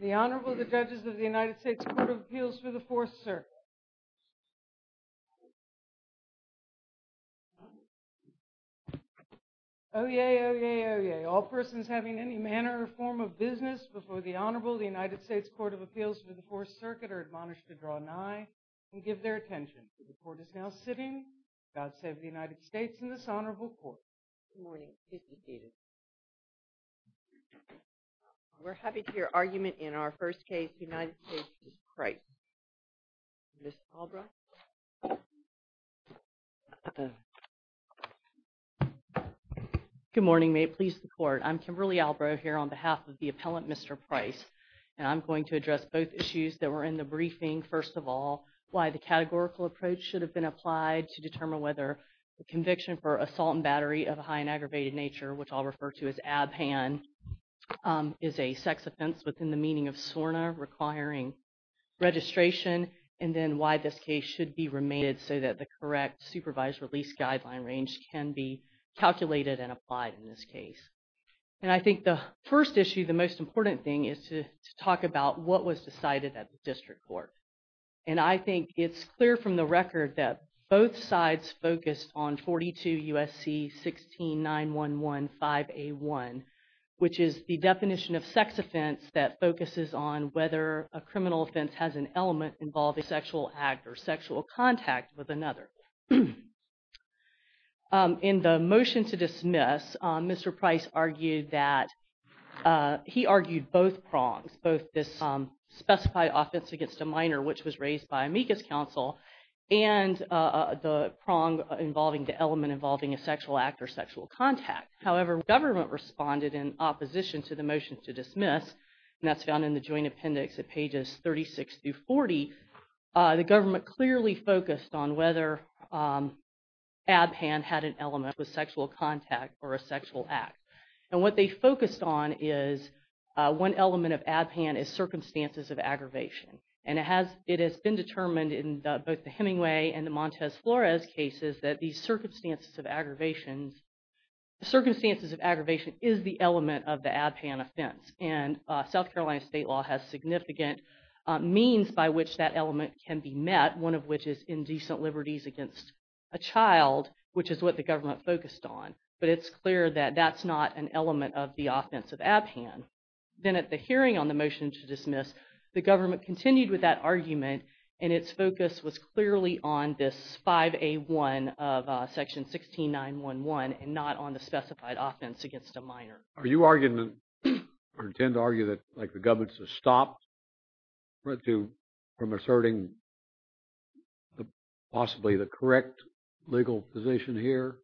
The Honorable, the Judges of the United States Court of Appeals for the Fourth, sir. Oh, yay, oh, yay, oh, yay. May all persons having any manner or form of business before the Honorable, the United States Court of Appeals for the Fourth Circuit are admonished to draw nigh and give their attention. The court is now sitting. God save the United States and this Honorable Court. Good morning. Please be seated. We're happy to hear argument in our first case, United States v. Price. Ms. Albright. Good morning. May it please the Court. I'm Kimberly Albright here on behalf of the appellant, Mr. Price, and I'm going to address both issues that were in the briefing. First of all, why the categorical approach should have been applied to determine whether the conviction for assault and battery of a high and aggravated nature, which I'll refer to as ab hand, is a sex offense within the meaning of SORNA requiring registration. And then why this case should be remanded so that the correct supervised release guideline range can be calculated and applied in this case. And I think the first issue, the most important thing, is to talk about what was decided at the district court. And I think it's clear from the record that both sides focused on 42 U.S.C. 169115A1, which is the definition of sex offense that focuses on whether a criminal offense has an element involving sexual act or sexual contact with another. In the motion to dismiss, Mr. Price argued that he argued both prongs, both this specified offense against a minor, which was raised by amicus counsel, and the prong involving the element involving a sexual act or sexual contact. However, government responded in opposition to the motion to dismiss, and that's found in the joint appendix at pages 36 through 40. The government clearly focused on whether ab hand had an element with sexual contact or a sexual act. And what they focused on is one element of ab hand is circumstances of aggravation. And it has been determined in both the Hemingway and the Montez Flores cases that the circumstances of aggravation is the element of the ab hand offense. And South Carolina state law has significant means by which that element can be met, one of which is indecent liberties against a child, which is what the government focused on. But it's clear that that's not an element of the offense of ab hand. Then at the hearing on the motion to dismiss, the government continued with that argument, and its focus was clearly on this 5A1 of section 16911 and not on the specified offense against a minor. Are you arguing or intend to argue that the government should stop from asserting possibly the correct legal position here,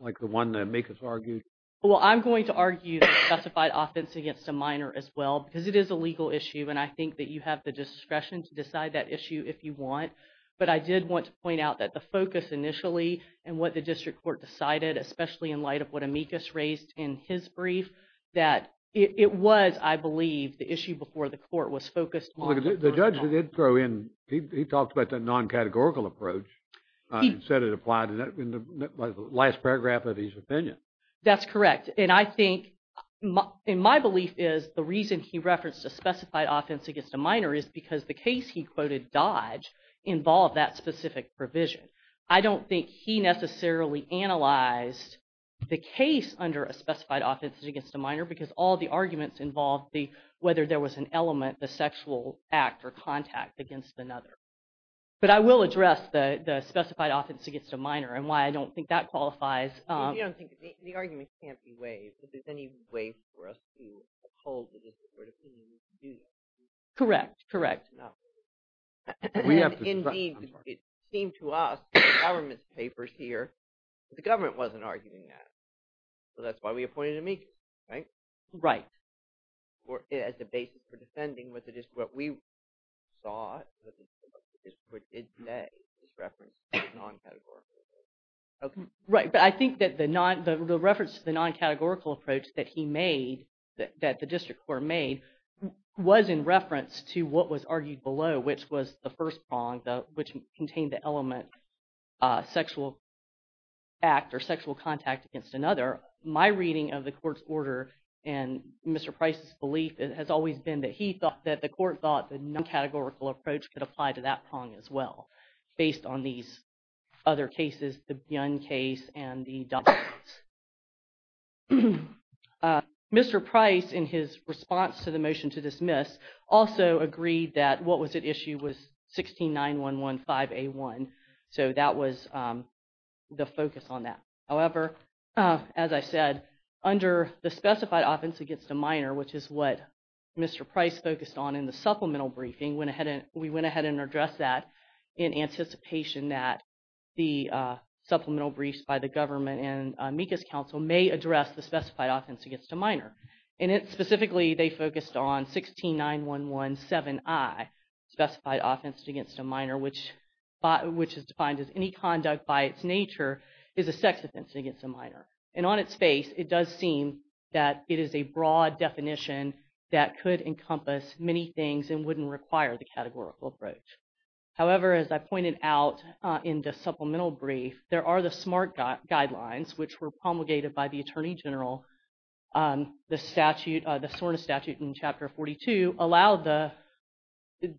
like the one that amicus argued? Well, I'm going to argue the specified offense against a minor as well because it is a legal issue. And I think that you have the discretion to decide that issue if you want. But I did want to point out that the focus initially and what the district court decided, especially in light of what amicus raised in his brief, that it was, I believe, the issue before the court was focused on. The judge did throw in, he talked about the non-categorical approach and said it applied in the last paragraph of his opinion. That's correct. And I think, and my belief is the reason he referenced a specified offense against a minor is because the case he quoted Dodge involved that specific provision. I don't think he necessarily analyzed the case under a specified offense against a minor because all the arguments involved whether there was an element, a sexual act, or contact against another. But I will address the specified offense against a minor and why I don't think that qualifies. You don't think – the arguments can't be waived. Is there any way for us to uphold the district court opinion to do that? Correct, correct. No. And indeed, it seemed to us in the government's papers here that the government wasn't arguing that. So that's why we appointed amicus, right? Right. As the basis for defending, was it just what we saw, was it what the district court did say, is referenced in the non-categorical case? Right, but I think that the reference to the non-categorical approach that he made, that the district court made, was in reference to what was argued below, which was the first prong, which contained the element sexual act or sexual contact against another. My reading of the court's order and Mr. Price's belief has always been that he thought that the court thought the non-categorical approach could apply to that prong as well, based on these other cases, the Byun case and the Dodd case. Mr. Price, in his response to the motion to dismiss, also agreed that what was at issue was 169115A1. So that was the focus on that. However, as I said, under the specified offense against a minor, which is what Mr. Price focused on in the supplemental briefing, we went ahead and addressed that in anticipation that the supplemental briefs by the government and amicus council may address the specified offense against a minor. And specifically, they focused on 169117I, specified offense against a minor, which is defined as any conduct by its nature is a sex offense against a minor. And on its face, it does seem that it is a broad definition that could encompass many things and wouldn't require the categorical approach. However, as I pointed out in the supplemental brief, there are the SMART guidelines, which were promulgated by the Attorney General. The statute, the SORNA statute in Chapter 42, allowed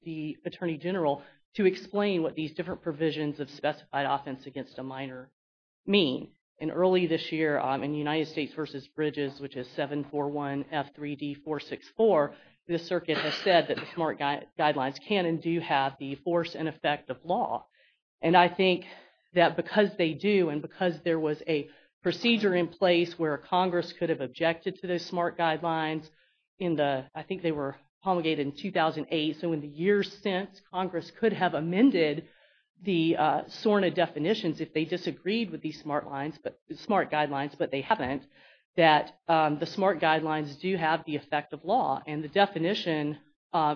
the Attorney General to explain what these different provisions of specified offense against a minor mean. And early this year, in United States v. Bridges, which is 741F3D464, the circuit has said that the SMART guidelines can and do have the force and effect of law. And I think that because they do, and because there was a procedure in place where Congress could have objected to those SMART guidelines in the, I think they were promulgated in 2008. So in the years since, Congress could have amended the SORNA definitions if they disagreed with these SMART guidelines, but they haven't, that the SMART guidelines do have the effect of law. And the definition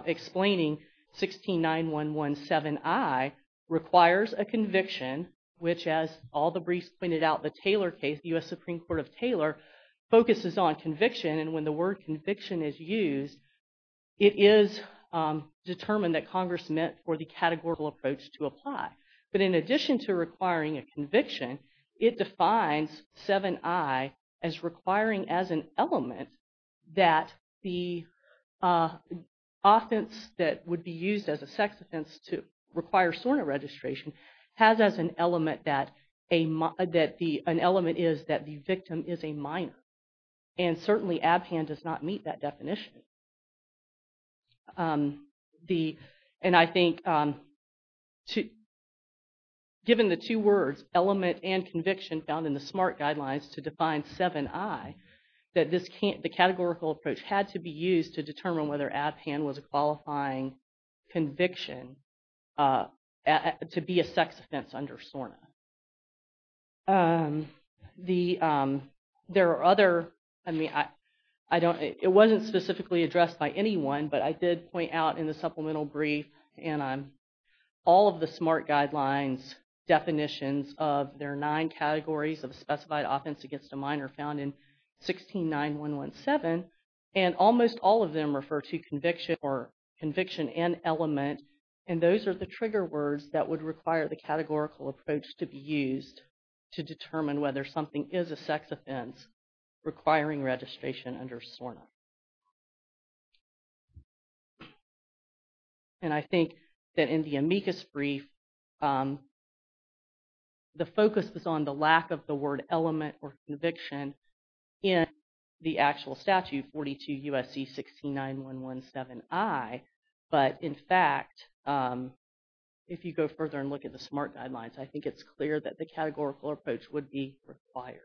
explaining 169117I requires a conviction, which as all the briefs pointed out, the Taylor case, the U.S. Supreme Court of Taylor, focuses on conviction. And when the word conviction is used, it is determined that Congress meant for the categorical approach to apply. But in addition to requiring a conviction, it defines 7I as requiring as an element that the offense that would be used as a sex offense to require SORNA registration has as an element that the, an element is that the victim is a minor. And certainly, ABPAN does not meet that definition. And I think, given the two words, element and conviction, found in the SMART guidelines to define 7I, that the categorical approach had to be used to determine whether ABPAN was a qualifying conviction to be a sex offense under SORNA. The, there are other, I mean, I don't, it wasn't specifically addressed by anyone, but I did point out in the supplemental brief and all of the SMART guidelines definitions of their nine categories of specified offense against a minor found in 169117. And almost all of them refer to conviction or conviction and element, and those are the trigger words that would require the categorical approach to be used to determine whether something is a sex offense requiring registration under SORNA. And I think that in the amicus brief, the focus was on the lack of the word element or conviction in the actual statute, 42 U.S.C. 169117I, but in fact, if you go further and look at the SMART guidelines, I think it's clear that the categorical approach would be required.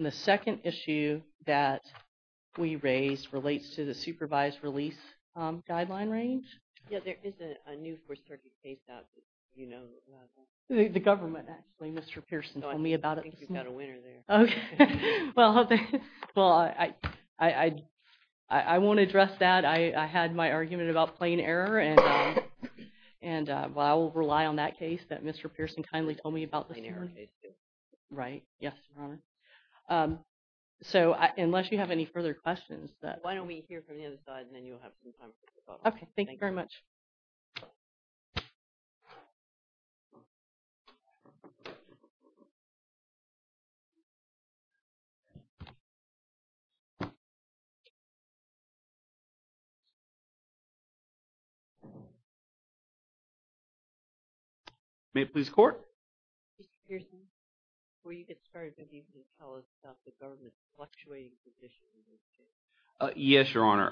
The second issue that we raised relates to the supervised release guideline range. Yeah, there is a new First Circuit case out that you know about. The government, actually. Mr. Pearson told me about it. I think you've got a winner there. Okay. Well, I won't address that. I had my argument about plain error, and I will rely on that case that Mr. Pearson kindly told me about this year. The plain error case, too. Right. Yes, Your Honor. So, unless you have any further questions. Why don't we hear from the other side, and then you'll have some time for questions. Okay. Thank you very much. May it please the Court? Mr. Pearson, before you get started, do you need to tell us about the government's fluctuating position in this case? Yes, Your Honor.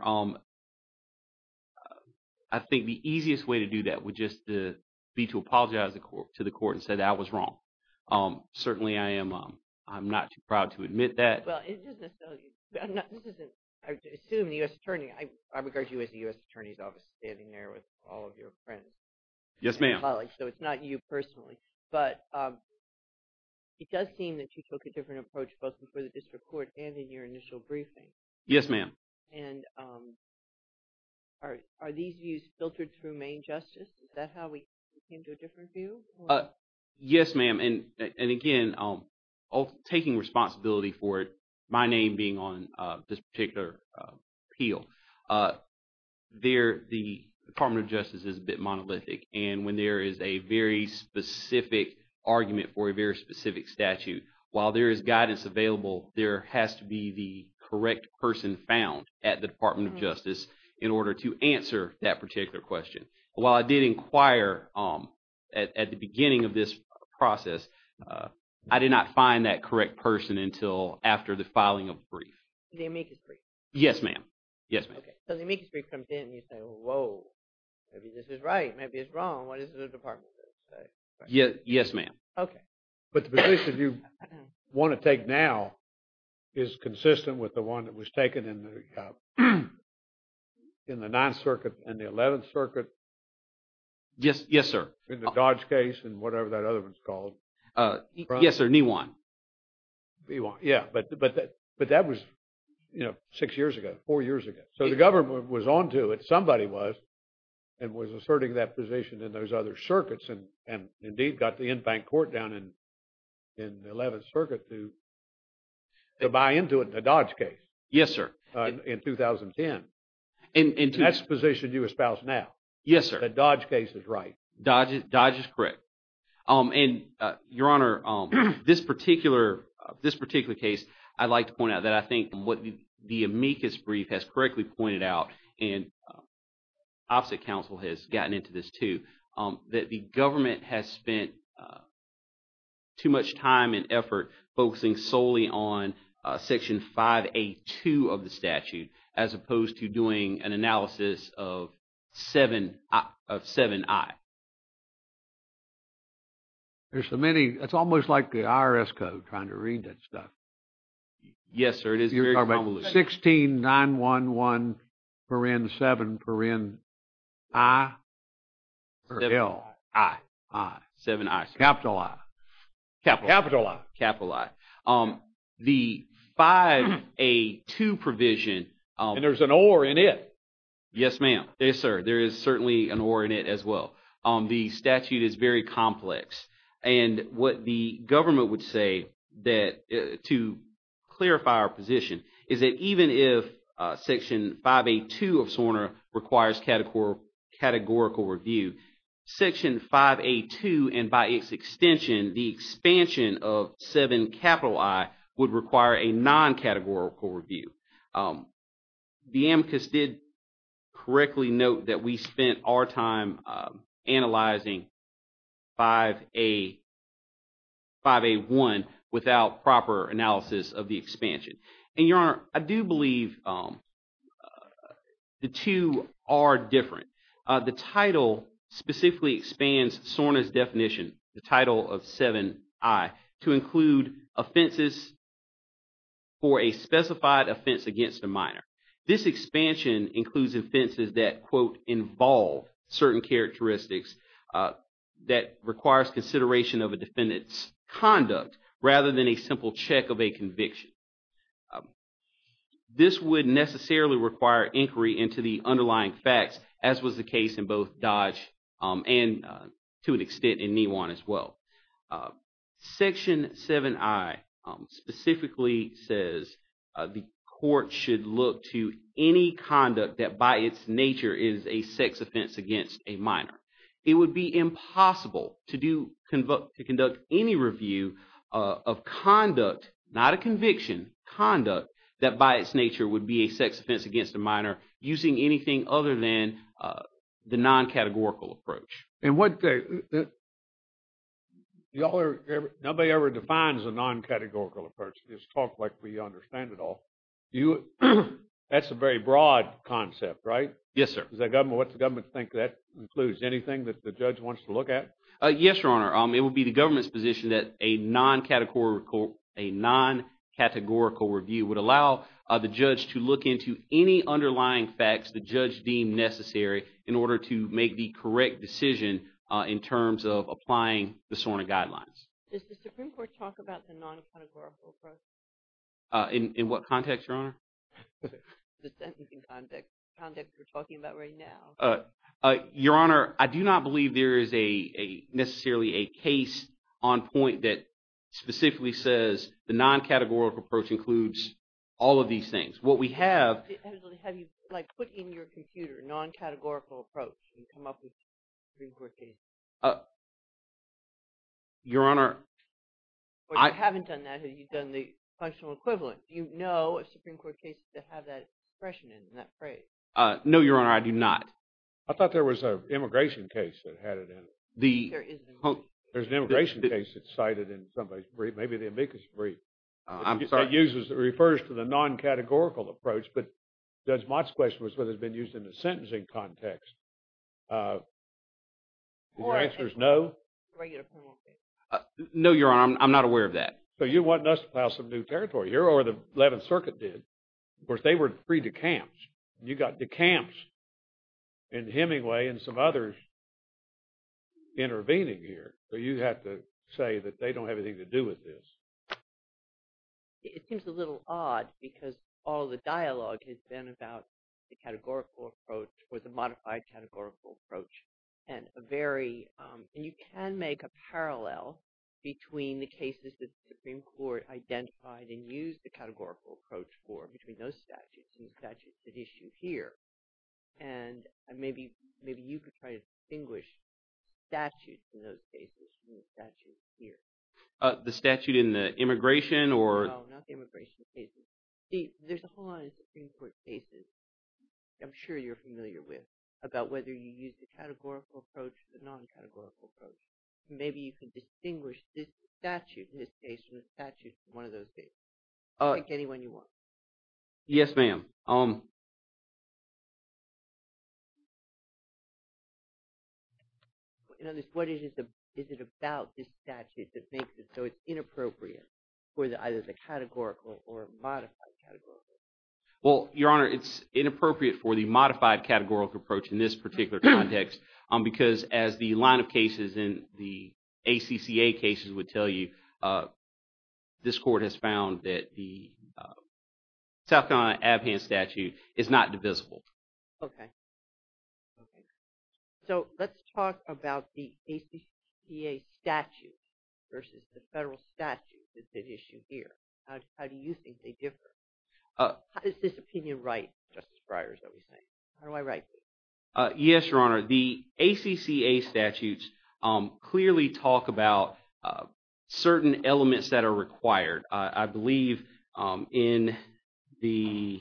I think the easiest way to do that would just be to apologize to the court and say that I was wrong. Certainly, I am – I'm not too proud to admit that. Well, it doesn't necessarily – this isn't – I assume the U.S. attorney – I regard you as the U.S. attorney's office standing there with all of your friends. Yes, ma'am. And colleagues, so it's not you personally. But it does seem that you took a different approach both before the district court and in your initial briefing. Yes, ma'am. And are these views filtered through main justice? Is that how we came to a different view? Yes, ma'am. And again, taking responsibility for it, my name being on this particular appeal, the Department of Justice is a bit monolithic. And when there is a very specific argument for a very specific statute, while there is guidance available, there has to be the correct person found at the Department of Justice in order to answer that particular question. While I did inquire at the beginning of this process, I did not find that correct person until after the filing of the brief. The amicus brief? Yes, ma'am. Yes, ma'am. Okay. So the amicus brief comes in and you say, whoa, maybe this is right, maybe it's wrong, what is the Department of Justice say? Yes, ma'am. Okay. But the position you want to take now is consistent with the one that was taken in the 9th Circuit and the 11th Circuit? Yes, sir. In the Dodge case and whatever that other one's called. Yes, sir. Nijuan. Nijuan, yeah, but that was six years ago, four years ago. So the government was on to it, somebody was, and was asserting that position in those other circuits and indeed got the Infant Court down in the 11th Circuit to buy into it in the Dodge case. Yes, sir. In 2010. That's the position you espouse now. Yes, sir. The Dodge case is right. Dodge is correct. And, Your Honor, this particular case, I'd like to point out that I think what the amicus brief has correctly pointed out, and opposite counsel has gotten into this too, that the government has spent too much time and effort focusing solely on Section 5A2 of the statute as opposed to doing an analysis of 7I. There's so many, it's almost like the IRS code trying to read that stuff. Yes, sir. It is very convoluted. You're talking about 169117I? 7I. I. 7I. Capital I. Capital I. Capital I. The 5A2 provision. And there's an or in it. Yes, ma'am. Yes, sir. There is certainly an or in it as well. The statute is very complex. And what the government would say that to clarify our position is that even if Section 5A2 of SORNA requires categorical review, Section 5A2 and by its extension, the expansion of 7I would require a non-categorical review. The amicus did correctly note that we spent our time analyzing 5A1 without proper analysis of the expansion. And, Your Honor, I do believe the two are different. The title specifically expands SORNA's definition, the title of 7I, to include offenses for a specified offense against a minor. This expansion includes offenses that, quote, involve certain characteristics that requires consideration of a defendant's conduct rather than a simple check of a conviction. This would necessarily require inquiry into the underlying facts, as was the case in both Dodge and to an extent in Neewan as well. Section 7I specifically says the court should look to any conduct that by its nature is a sex offense against a minor. It would be impossible to do – to conduct any review of conduct, not a conviction, conduct that by its nature would be a sex offense against a minor using anything other than the non-categorical approach. And what – nobody ever defines a non-categorical approach. Just talk like we understand it all. That's a very broad concept, right? Yes, sir. Does the government – what does the government think that includes? Anything that the judge wants to look at? Yes, Your Honor. It would be the government's position that a non-categorical review would allow the judge to look into any underlying facts the judge deemed necessary in order to make the correct decision in terms of applying the SORNA guidelines. Does the Supreme Court talk about the non-categorical approach? In what context, Your Honor? The sentencing context we're talking about right now. Your Honor, I do not believe there is a – necessarily a case on point that specifically says the non-categorical approach includes all of these things. What we have – Have you, like, put in your computer non-categorical approach and come up with a Supreme Court case? Your Honor, I – No, Your Honor, I do not. I thought there was an immigration case that had it in it. There is an immigration case. There's an immigration case that's cited in somebody's brief. Maybe the amicus brief. I'm sorry? It uses – it refers to the non-categorical approach, but Judge Mott's question was whether it's been used in the sentencing context. The answer is no? No, Your Honor, I'm not aware of that. So you're wanting us to plow some new territory. Your Honor, the Eleventh Circuit did. Of course, they were freed to camps. And you got to camps and Hemingway and some others intervening here. So you have to say that they don't have anything to do with this. It seems a little odd because all the dialogue has been about the categorical approach or the modified categorical approach. And a very – and you can make a parallel between the cases that the Supreme Court identified and used the categorical approach for between those statutes and the statutes at issue here. And maybe you could try to distinguish statutes in those cases from the statutes here. The statute in the immigration or – No, not the immigration cases. Steve, there's a whole lot of Supreme Court cases I'm sure you're familiar with about whether you use the categorical approach or the non-categorical approach. Maybe you could distinguish this statute in this case from the statutes in one of those cases. Pick any one you want. Yes, ma'am. What is it about this statute that makes it so it's inappropriate for either the categorical or modified categorical? Well, Your Honor, it's inappropriate for the modified categorical approach in this particular context because, as the line of cases in the ACCA cases would tell you, this court has found that the South Carolina Abhand Statute is not divisible. Okay. Okay. So let's talk about the ACCA statute versus the federal statute that's at issue here. How do you think they differ? How does this opinion write, Justice Breyer, is what we're saying? How do I write this? Yes, Your Honor. The ACCA statutes clearly talk about certain elements that are required. I believe in the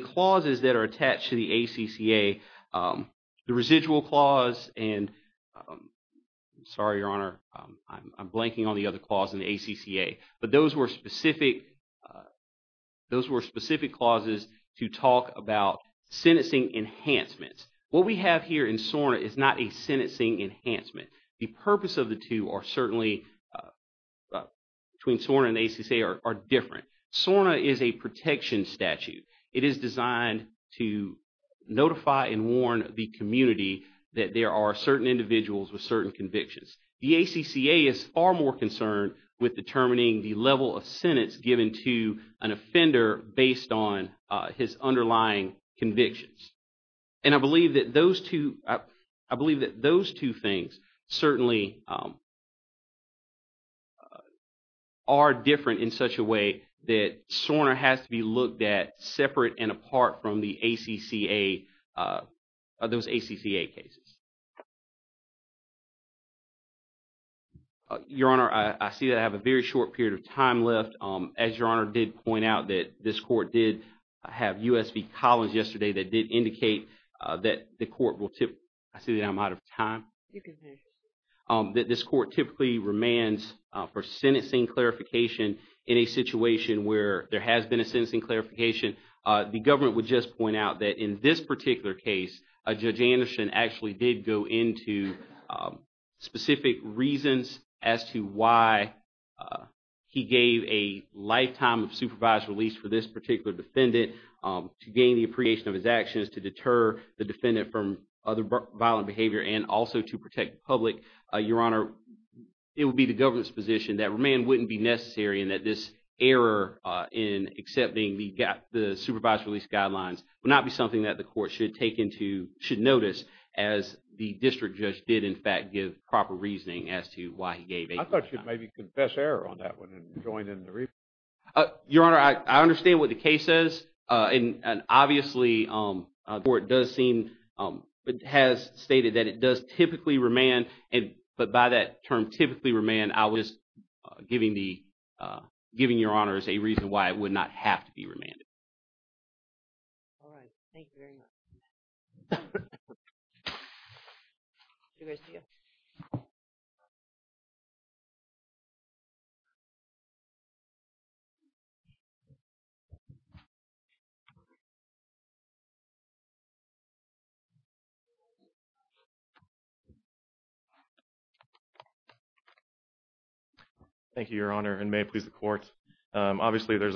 clauses that are attached to the ACCA, the residual clause and – sorry, Your Honor, I'm blanking on the other clause in the ACCA. But those were specific clauses to talk about sentencing enhancements. What we have here in SORNA is not a sentencing enhancement. The purpose of the two are certainly – between SORNA and the ACCA are different. SORNA is a protection statute. It is designed to notify and warn the community that there are certain individuals with certain convictions. The ACCA is far more concerned with determining the level of sentence given to an offender based on his underlying convictions. And I believe that those two – I believe that those two things certainly are different in such a way that SORNA has to be looked at separate and apart from the ACCA – those ACCA cases. Your Honor, I see that I have a very short period of time left. As Your Honor did point out that this court did have U.S. v. Collins yesterday that did indicate that the court will – I see that I'm out of time. You can finish. This court typically remands for sentencing clarification in a situation where there has been a sentencing clarification. The government would just point out that in this particular case, Judge Anderson actually did go into specific reasons as to why he gave a lifetime of supervised release for this particular defendant to gain the appreciation of his actions to deter the defendant from other violent behavior and also to protect the public. Your Honor, it would be the government's position that remand wouldn't be necessary and that this error in accepting the supervised release guidelines would not be something that the court should take into – should notice as the district judge did, in fact, give proper reasoning as to why he gave a lifetime. I thought you'd maybe confess error on that one and join in the rebuttal. Your Honor, I understand what the case says, and obviously the court does seem – has stated that it does typically remand, but by that term, typically remand, I was giving the – giving Your Honors a reason why it would not have to be remanded. All right. Thank you very much. Thank you. Thank you, Your Honor, and may it please the court. Every other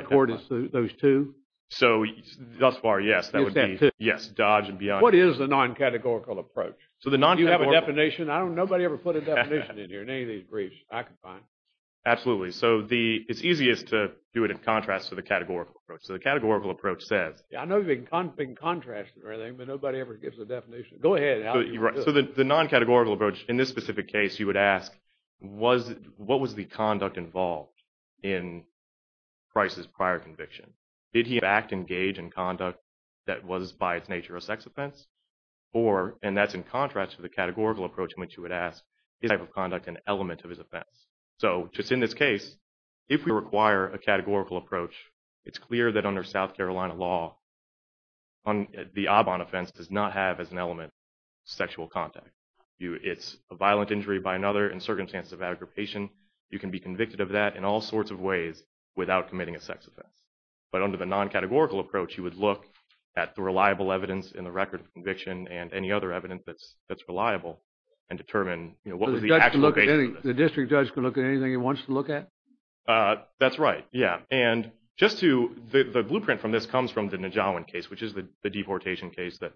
court is those two? So thus far, yes. Is that two? Yes, Dodge and beyond. What is the non-categorical approach? So the non-categorical – Do you have a definition? I don't – nobody ever put a definition in here in any of these briefs I could find. Absolutely. So the – it's easiest to do it in contrast to the categorical approach. So the categorical approach says – Yeah, I know you've been contrasting or anything, but nobody ever gives a definition. Go ahead. So the non-categorical approach in this specific case, you would ask, was – what was the conduct involved in Price's prior conviction? Did he in fact engage in conduct that was by its nature a sex offense? Or – and that's in contrast to the categorical approach in which you would ask, is that type of conduct an element of his offense? So just in this case, if we require a categorical approach, it's clear that under South Carolina law, the Obon offense does not have as an element sexual contact. It's a violent injury by another in circumstances of aggravation. You can be convicted of that in all sorts of ways without committing a sex offense. But under the non-categorical approach, you would look at the reliable evidence in the record of conviction and any other evidence that's reliable and determine, you know, what was the actual – The district judge can look at anything he wants to look at? That's right, yeah. And just to – the blueprint from this comes from the Najawan case, which is the deportation case that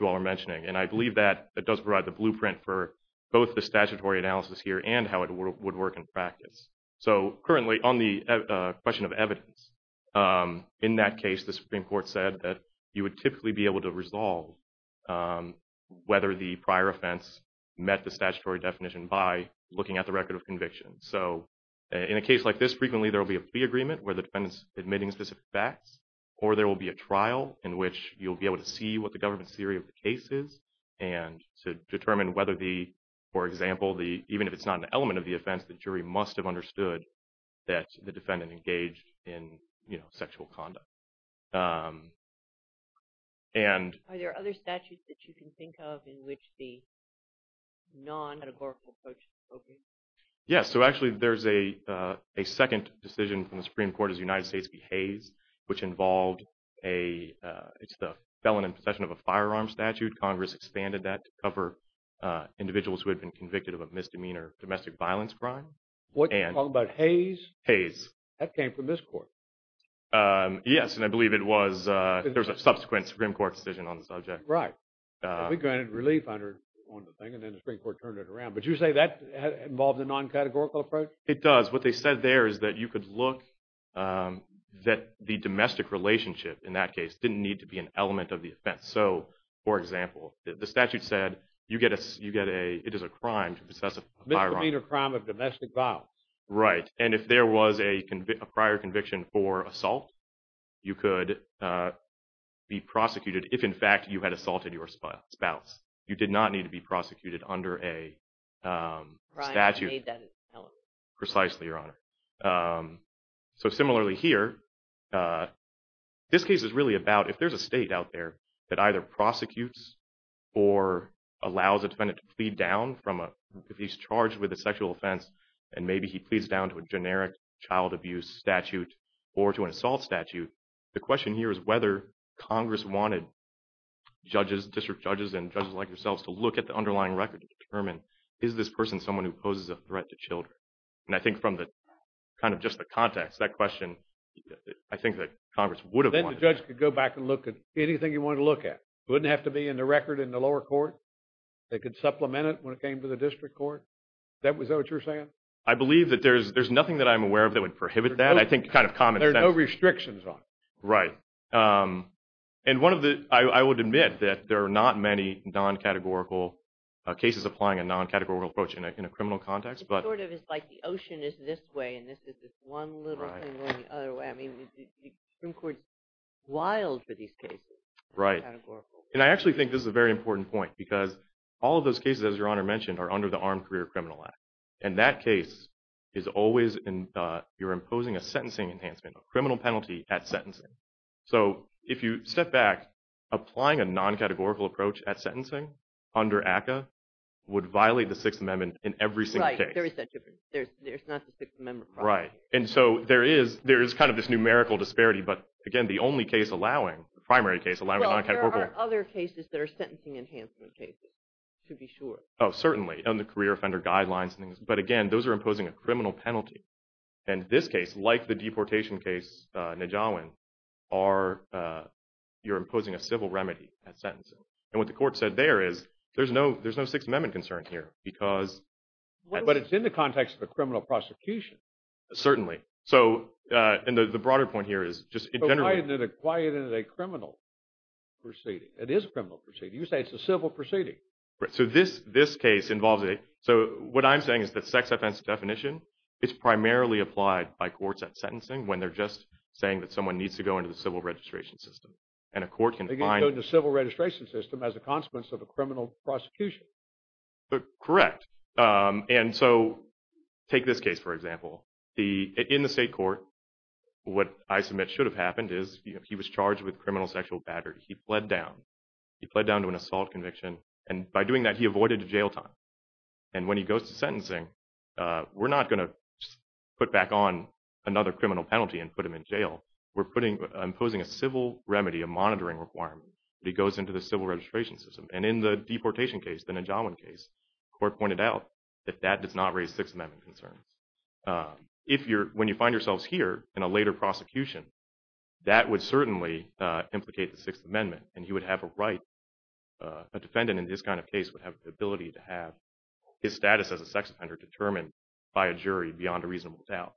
you all are mentioning. And I believe that it does provide the blueprint for both the statutory analysis here and how it would work in practice. So currently, on the question of evidence, in that case, the Supreme Court said that you would typically be able to resolve whether the prior offense met the statutory definition by looking at the record of conviction. So in a case like this, frequently there will be a plea agreement where the defendant's admitting specific facts, or there will be a trial in which you'll be able to see what the government's theory of the case is and to determine whether the – the statutory must have understood that the defendant engaged in, you know, sexual conduct. And – Are there other statutes that you can think of in which the non-categorical approach is appropriate? Yeah, so actually there's a second decision from the Supreme Court as the United States behaves, which involved a – it's the felon in possession of a firearm statute. Congress expanded that to cover individuals who had been convicted of a misdemeanor domestic violence crime. What, you're talking about Hayes? Hayes. That came from this court. Yes, and I believe it was – there was a subsequent Supreme Court decision on the subject. Right. We granted relief on the thing, and then the Supreme Court turned it around. But you say that involves a non-categorical approach? It does. What they said there is that you could look – that the domestic relationship in that case didn't need to be an element of the offense. So, for example, the statute said you get a – it is a crime to possess a firearm. Misdemeanor crime of domestic violence. Right. And if there was a prior conviction for assault, you could be prosecuted if, in fact, you had assaulted your spouse. You did not need to be prosecuted under a statute. Right. Precisely, Your Honor. So, similarly here, this case is really about if there's a state out there that either prosecutes or allows a defendant to plead down from a – if he's charged with a sexual offense and maybe he pleads down to a generic child abuse statute or to an assault statute, the question here is whether Congress wanted judges, district judges and judges like yourselves, to look at the underlying record to determine is this person someone who poses a threat to children. And I think from the – kind of just the context, that question, I think that Congress would have wanted – Then the judge could go back and look at anything he wanted to look at. It wouldn't have to be in the record in the lower court. They could supplement it when it came to the district court. Is that what you're saying? I believe that there's nothing that I'm aware of that would prohibit that. I think kind of common sense – There are no restrictions on it. Right. And one of the – I would admit that there are not many non-categorical cases applying a non-categorical approach in a criminal context, but – It sort of is like the ocean is this way and this is this one little thing going the other way. I mean, the Supreme Court is wild for these cases. Right. Non-categorical. And I actually think this is a very important point because all of those cases, as Your Honor mentioned, are under the Armed Career Criminal Act. And that case is always – you're imposing a sentencing enhancement, a criminal penalty at sentencing. So if you step back, applying a non-categorical approach at sentencing under ACCA would violate the Sixth Amendment in every single case. Right. There is that difference. There's not the Sixth Amendment. Right. And so there is kind of this numerical disparity. But, again, the only case allowing – the primary case allowing a non-categorical – Well, there are other cases that are sentencing enhancement cases, to be sure. Oh, certainly. And the career offender guidelines and things. But, again, those are imposing a criminal penalty. And this case, like the deportation case, Najawan, are – you're imposing a civil remedy at sentencing. And what the court said there is there's no Sixth Amendment concern here because – But it's in the context of a criminal prosecution. Certainly. So – and the broader point here is just in general – So why isn't it a criminal proceeding? It is a criminal proceeding. You say it's a civil proceeding. Right. So this case involves a – so what I'm saying is that sex offense definition is primarily applied by courts at sentencing when they're just saying that someone needs to go into the civil registration system. And a court can find – They can go into the civil registration system as a consequence of a criminal prosecution. Correct. And so take this case, for example. In the state court, what I submit should have happened is he was charged with criminal sexual battery. He fled down. He fled down to an assault conviction. And by doing that, he avoided jail time. And when he goes to sentencing, we're not going to put back on another criminal penalty and put him in jail. We're putting – imposing a civil remedy, a monitoring requirement that he goes into the civil registration system. And in the deportation case, the Najawan case, the court pointed out that that does not raise Sixth Amendment concerns. If you're – when you find yourselves here in a later prosecution, that would certainly implicate the Sixth Amendment, and he would have a right – a defendant in this kind of case would have the ability to have his status as a sex offender determined by a jury beyond a reasonable doubt.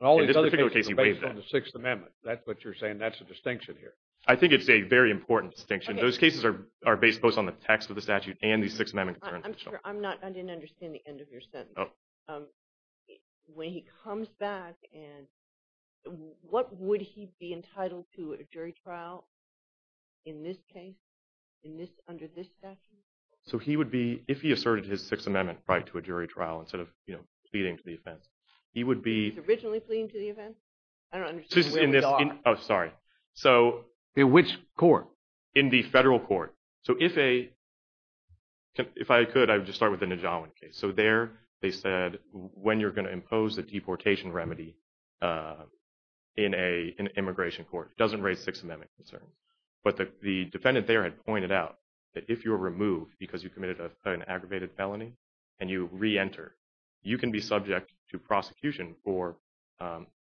All these other cases are based on the Sixth Amendment. That's what you're saying. That's the distinction here. I think it's a very important distinction. Those cases are based both on the text of the statute and the Sixth Amendment concerns. I'm sure – I'm not – I didn't understand the end of your sentence. When he comes back, what would he be entitled to at a jury trial in this case, under this statute? So he would be – if he asserted his Sixth Amendment right to a jury trial instead of pleading to the offense, he would be – He was originally pleading to the offense? I don't understand where we are. Oh, sorry. So – In which court? In the federal court. So if a – if I could, I would just start with the Najawan case. So there they said when you're going to impose a deportation remedy in an immigration court, it doesn't raise Sixth Amendment concerns. But the defendant there had pointed out that if you're removed because you committed an aggravated felony and you re-enter, you can be subject to prosecution for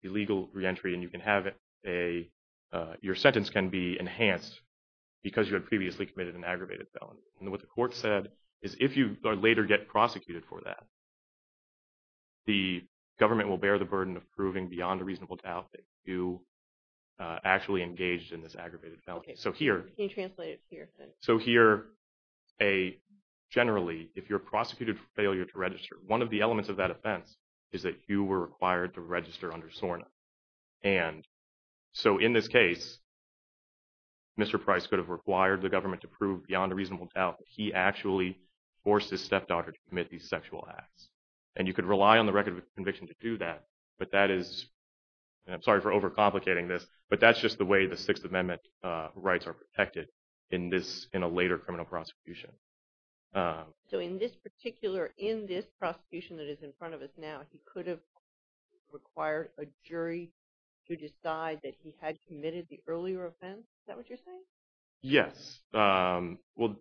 illegal re-entry and you can have a – your sentence can be enhanced because you had previously committed an aggravated felony. And what the court said is if you later get prosecuted for that, the government will bear the burden of proving beyond a reasonable doubt that you actually engaged in this aggravated felony. So here – Can you translate it to your sentence? So here, a – generally, if you're prosecuted for failure to register, one of the elements of that offense is that you were required to register under SORNA. And so in this case, Mr. Price could have required the government to prove beyond a reasonable doubt that he actually forced his stepdaughter to commit these sexual acts. And you could rely on the record of conviction to do that, but that is – and I'm sorry for overcomplicating this, but that's just the way the Sixth Amendment rights are protected in this – in a later criminal prosecution. So in this particular – in this prosecution that is in front of us now, he could have required a jury to decide that he had committed the earlier offense? Is that what you're saying? Yes. Well,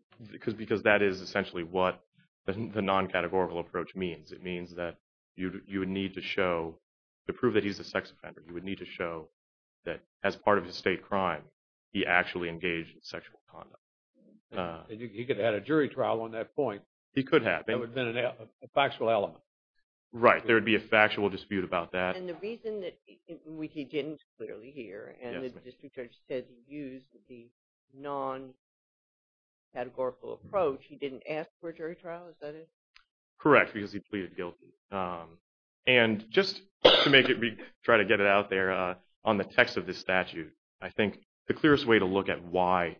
because that is essentially what the non-categorical approach means. It means that you would need to show – to prove that he's a sex offender, you would need to show that as part of his state crime, he actually engaged in sexual conduct. He could have had a jury trial on that point. He could have. That would have been a factual element. Right. There would be a factual dispute about that. And the reason that he didn't clearly here, and the district judge said he used the non-categorical approach, he didn't ask for a jury trial, is that it? Correct, because he pleaded guilty. And just to make it – try to get it out there, on the text of this statute, I think the clearest way to look at why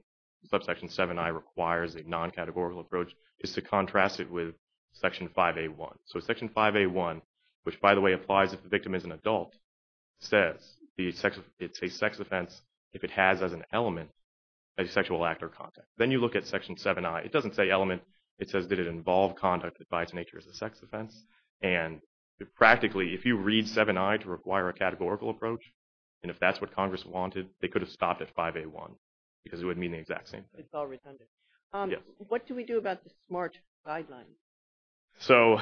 Subsection 7I requires a non-categorical approach is to contrast it with Section 5A1. So Section 5A1, which, by the way, applies if the victim is an adult, says it's a sex offense if it has as an element a sexual act or conduct. Then you look at Section 7I. It doesn't say element. It says did it involve conduct that by its nature is a sex offense. And practically, if you read 7I to require a categorical approach, and if that's what Congress wanted, they could have stopped at 5A1 because it would mean the exact same thing. It's all redundant. Yes. What do we do about the SMART guidelines? So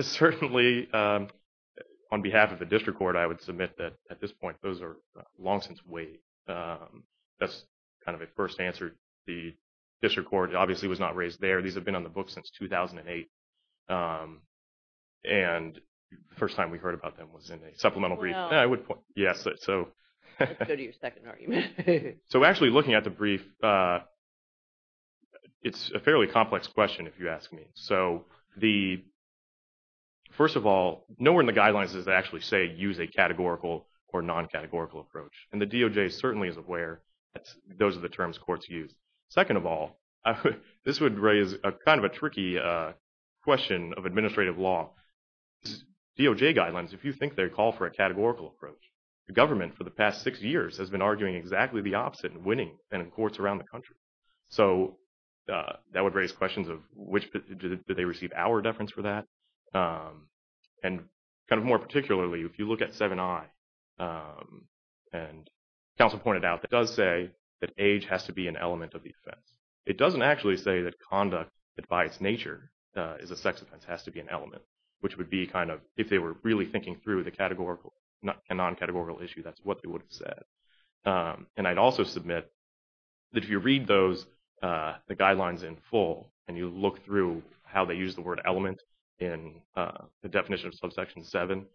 certainly, on behalf of the district court, I would submit that at this point, those are long-since waived. That's kind of a first answer. The district court obviously was not raised there. These have been on the books since 2008. And the first time we heard about them was in a supplemental brief. Well, let's go to your second argument. So actually, looking at the brief, it's a fairly complex question, if you ask me. So first of all, nowhere in the guidelines does it actually say use a categorical or non-categorical approach. And the DOJ certainly is aware that those are the terms courts use. Second of all, this would raise kind of a tricky question of administrative law. DOJ guidelines, if you think they call for a categorical approach, the government for the past six years has been arguing exactly the opposite in winning and in courts around the country. So that would raise questions of did they receive our deference for that? And kind of more particularly, if you look at 7i, and counsel pointed out, it does say that age has to be an element of the offense. It doesn't actually say that conduct that by its nature is a sex offense has to be an element, which would be kind of if they were really thinking through the categorical and non-categorical issue, that's what they would have said. And I'd also submit that if you read those guidelines in full and you look through how they use the word element in the definition of subsection 7,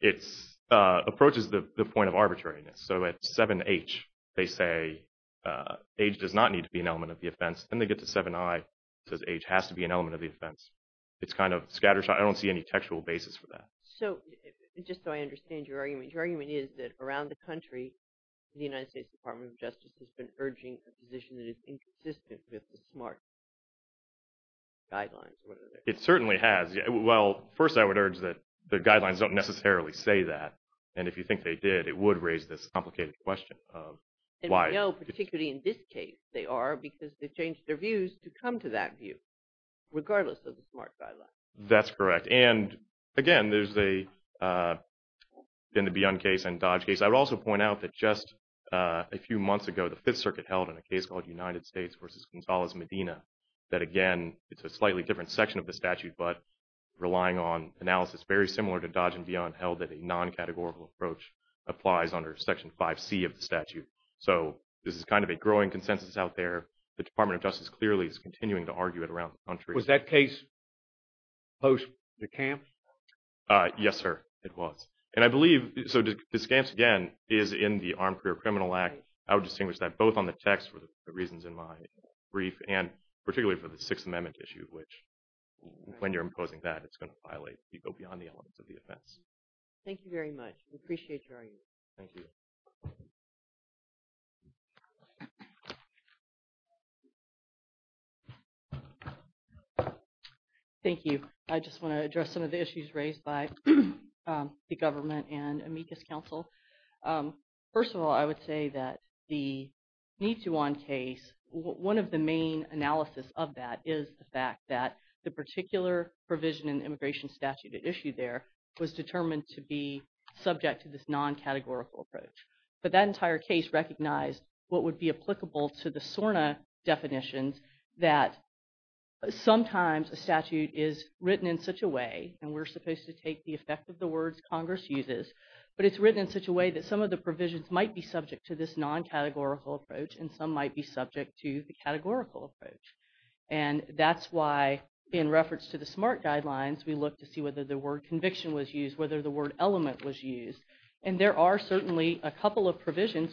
it approaches the point of arbitrariness. So at 7h, they say age does not need to be an element of the offense. Then they get to 7i, it says age has to be an element of the offense. It's kind of scattershot. I don't see any textual basis for that. So just so I understand your argument, your argument is that around the country, the United States Department of Justice has been urging a position that is inconsistent with the SMART guidelines. It certainly has. Well, first I would urge that the guidelines don't necessarily say that. And if you think they did, it would raise this complicated question of why. And we know particularly in this case they are because they've changed their views to come to that view, regardless of the SMART guidelines. That's correct. And again, there's the Beyond case and Dodge case. I would also point out that just a few months ago, the Fifth Circuit held in a case called United States v. Gonzalez Medina, that again, it's a slightly different section of the statute, but relying on analysis very similar to Dodge and Beyond held that a non-categorical approach applies under Section 5C of the statute. So this is kind of a growing consensus out there. The Department of Justice clearly is continuing to argue it around the country. Was that case posed to Kamps? Yes, sir, it was. And I believe, so Kamps, again, is in the Armed Career Criminal Act. I would distinguish that both on the text for the reasons in my brief and particularly for the Sixth Amendment issue, which when you're imposing that, it's going to violate, go beyond the elements of the offense. Thank you very much. We appreciate your argument. Thank you. Thank you. I just want to address some of the issues raised by the government and amicus counsel. First of all, I would say that the Nituon case, one of the main analysis of that is the fact that the particular provision in the immigration statute at issue there was determined to be subject to this non-categorical approach. But that entire case recognized what would be applicable to the SORNA definitions, that sometimes a statute is written in such a way, and we're supposed to take the effect of the words Congress uses, but it's written in such a way that some of the provisions might be subject to this non-categorical approach and some might be subject to the categorical approach. And that's why, in reference to the SMART guidelines, we looked to see whether the word conviction was used, whether the word element was used. And there are certainly a couple of provisions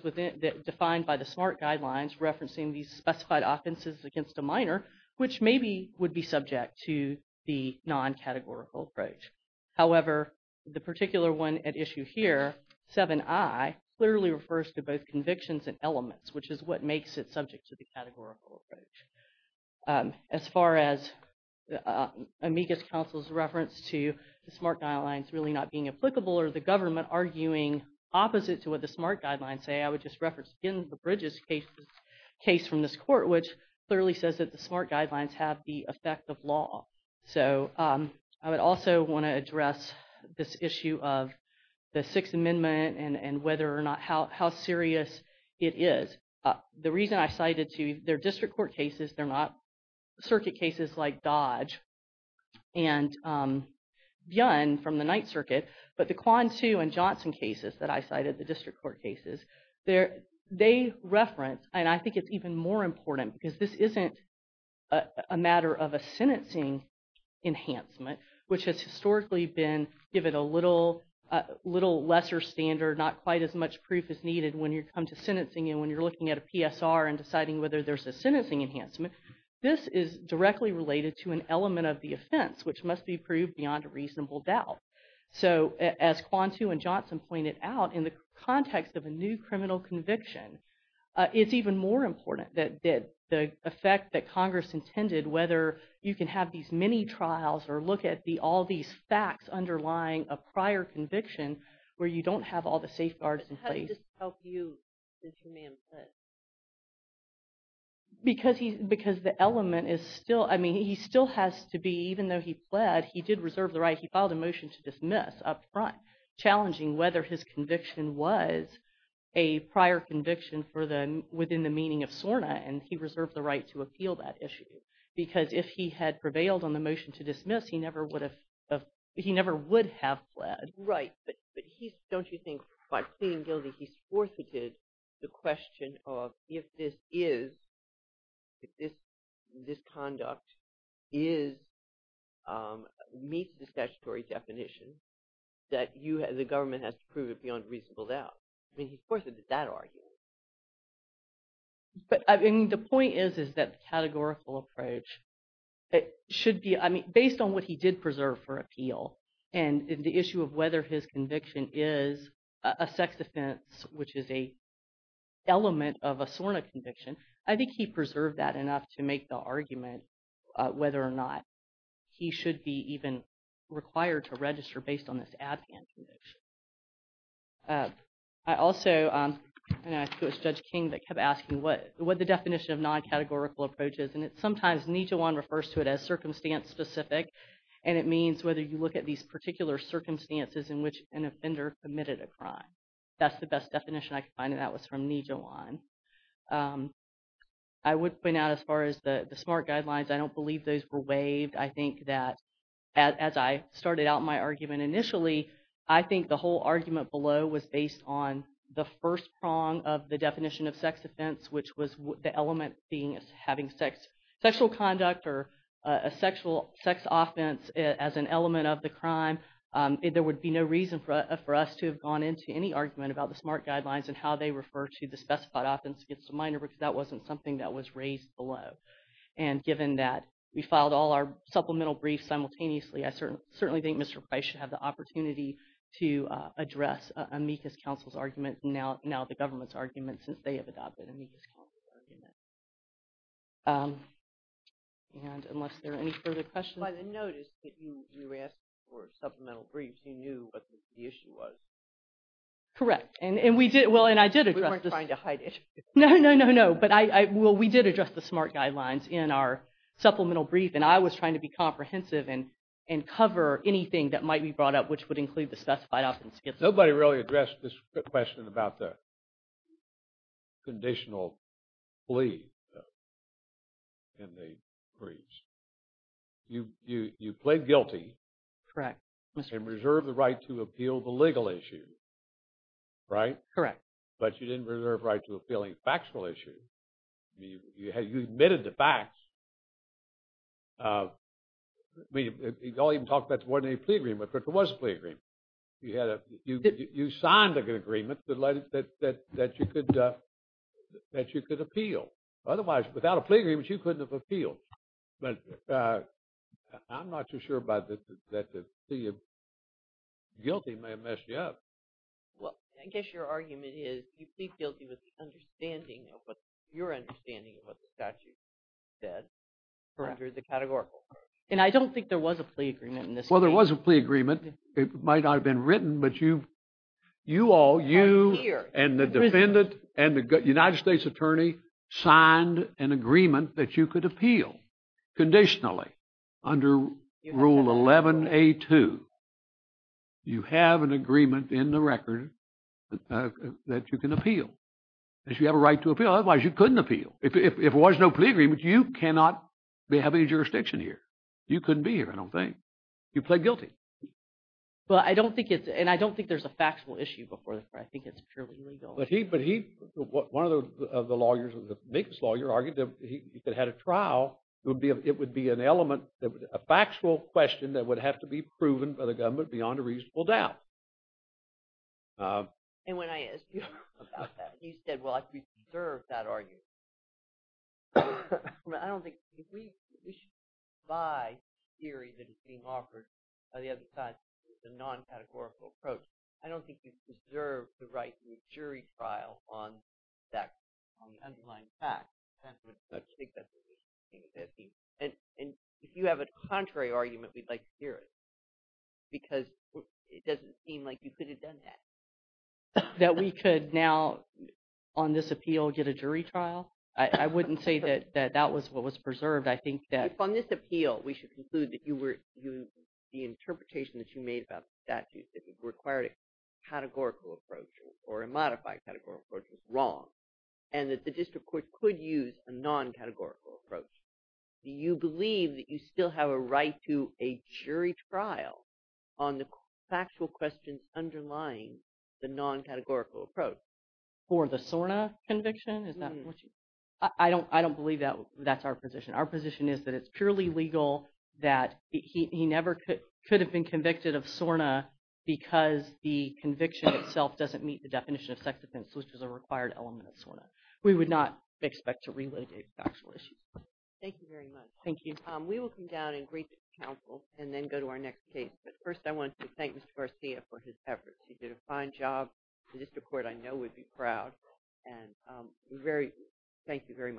defined by the SMART guidelines referencing these specified offenses against a minor, which maybe would be subject to the non-categorical approach. However, the particular one at issue here, 7i, clearly refers to both convictions and elements, which is what makes it subject to the categorical approach. As far as amicus counsel's reference to the SMART guidelines really not being applicable or the government arguing opposite to what the SMART guidelines say, I would just reference, again, the Bridges case from this court, which clearly says that the SMART guidelines have the effect of law. So I would also want to address this issue of the Sixth Amendment and whether or not how serious it is. The reason I cited two, they're district court cases. They're not circuit cases like Dodge and Byun from the Ninth Circuit. But the Quan Tu and Johnson cases that I cited, the district court cases, they reference, and I think it's even more important because this isn't a matter of a sentencing enhancement, which has historically been given a little lesser standard, not quite as much proof as needed when you come to sentencing. And when you're looking at a PSR and deciding whether there's a sentencing enhancement, this is directly related to an element of the offense, which must be proved beyond a reasonable doubt. So as Quan Tu and Johnson pointed out, in the context of a new criminal conviction, it's even more important that the effect that Congress intended, whether you can have these mini-trials or look at all these facts underlying a prior conviction where you don't have all the safeguards in place. How did this help you, since your man pled? Because the element is still, I mean, he still has to be, even though he pled, he did reserve the right. He filed a motion to dismiss up front, challenging whether his conviction was a prior conviction for the, within the meaning of SORNA, and he reserved the right to appeal that issue. Because if he had prevailed on the motion to dismiss, he never would have fled. Right, but he's, don't you think, by pleading guilty, he's forfeited the question of if this is, if this conduct is, meets the statutory definition, that the government has to prove it beyond reasonable doubt. I mean, he's forfeited that argument. But the point is, is that the categorical approach should be, I mean, based on what he did preserve for appeal and the issue of whether his conviction is a sex offense, which is a element of a SORNA conviction, I think he preserved that enough to make the argument whether or not he should be even required to register based on this ADPAN conviction. I also, and I think it was Judge King that kept asking what the definition of non-categorical approach is, and sometimes Nijewan refers to it as circumstance-specific, and it means whether you look at these particular circumstances in which an offender committed a crime. That's the best definition I could find, and that was from Nijewan. I would point out, as far as the SMART guidelines, I don't believe those were waived. I think that, as I started out my argument initially, I think the whole argument below was based on the first prong of the definition of sex offense, which was the element being having sexual conduct or a sex offense as an element of the crime. There would be no reason for us to have gone into any argument about the SMART guidelines and how they refer to the specified offense against a minor because that wasn't something that was raised below. And given that we filed all our supplemental briefs simultaneously, I certainly think Mr. Price should have the opportunity to address amicus counsel's argument, now the government's argument, since they have adopted amicus counsel's argument. And unless there are any further questions. By the notice that you were asked for supplemental briefs, you knew what the issue was. Correct. And we did, well, and I did address this. We weren't trying to hide it. No, no, no, no. Well, we did address the SMART guidelines in our supplemental brief, and I was trying to be comprehensive and cover anything that might be brought up, which would include the specified offense against a minor. Nobody really addressed this question about the conditional plea in the briefs. You plead guilty. Correct. And reserve the right to appeal the legal issue, right? Correct. But you didn't reserve the right to appeal any factual issue. You admitted the facts. I mean, you don't even talk about the ordinary plea agreement, but there was a plea agreement. You signed a good agreement that you could appeal. Otherwise, without a plea agreement, you couldn't have appealed. But I'm not too sure about the plea. Guilty may have messed you up. Well, I guess your argument is you plead guilty with understanding of what, your understanding of what the statute said for under the categorical. And I don't think there was a plea agreement in this case. Well, there was a plea agreement. It might not have been written, but you all, you and the defendant and the United States attorney signed an agreement that you could appeal conditionally under Rule 11A2. You have an agreement in the record that you can appeal, that you have a right to appeal. Otherwise, you couldn't appeal. If there was no plea agreement, you cannot have any jurisdiction here. You couldn't be here, I don't think. You plead guilty. Well, I don't think it's, and I don't think there's a factual issue before the court. I think it's purely legal. One of the lawyers, the Minkus lawyer, argued that if he had had a trial, it would be an element, a factual question that would have to be proven by the government beyond a reasonable doubt. And when I asked you about that, you said, well, I could reserve that argument. I don't think we should buy the theory that is being offered by the other side, the non-categorical approach. I don't think you should reserve the right to a jury trial on the underlying fact. That's what I think that would be. And if you have a contrary argument, we'd like to hear it because it doesn't seem like you could have done that. That we could now, on this appeal, get a jury trial? On this appeal, we should conclude that the interpretation that you made about the statute, that it required a categorical approach or a modified categorical approach, was wrong. And that the district court could use a non-categorical approach. Do you believe that you still have a right to a jury trial on the factual questions underlying the non-categorical approach? For the SORNA conviction? I don't believe that's our position. Our position is that it's purely legal, that he never could have been convicted of SORNA because the conviction itself doesn't meet the definition of sex offense, which is a required element of SORNA. We would not expect to relocate factual issues. Thank you very much. Thank you. We will come down and brief the counsel and then go to our next case. But first, I want to thank Mr. Garcia for his efforts. He did a fine job. The district court, I know, would be proud. Thank you very much.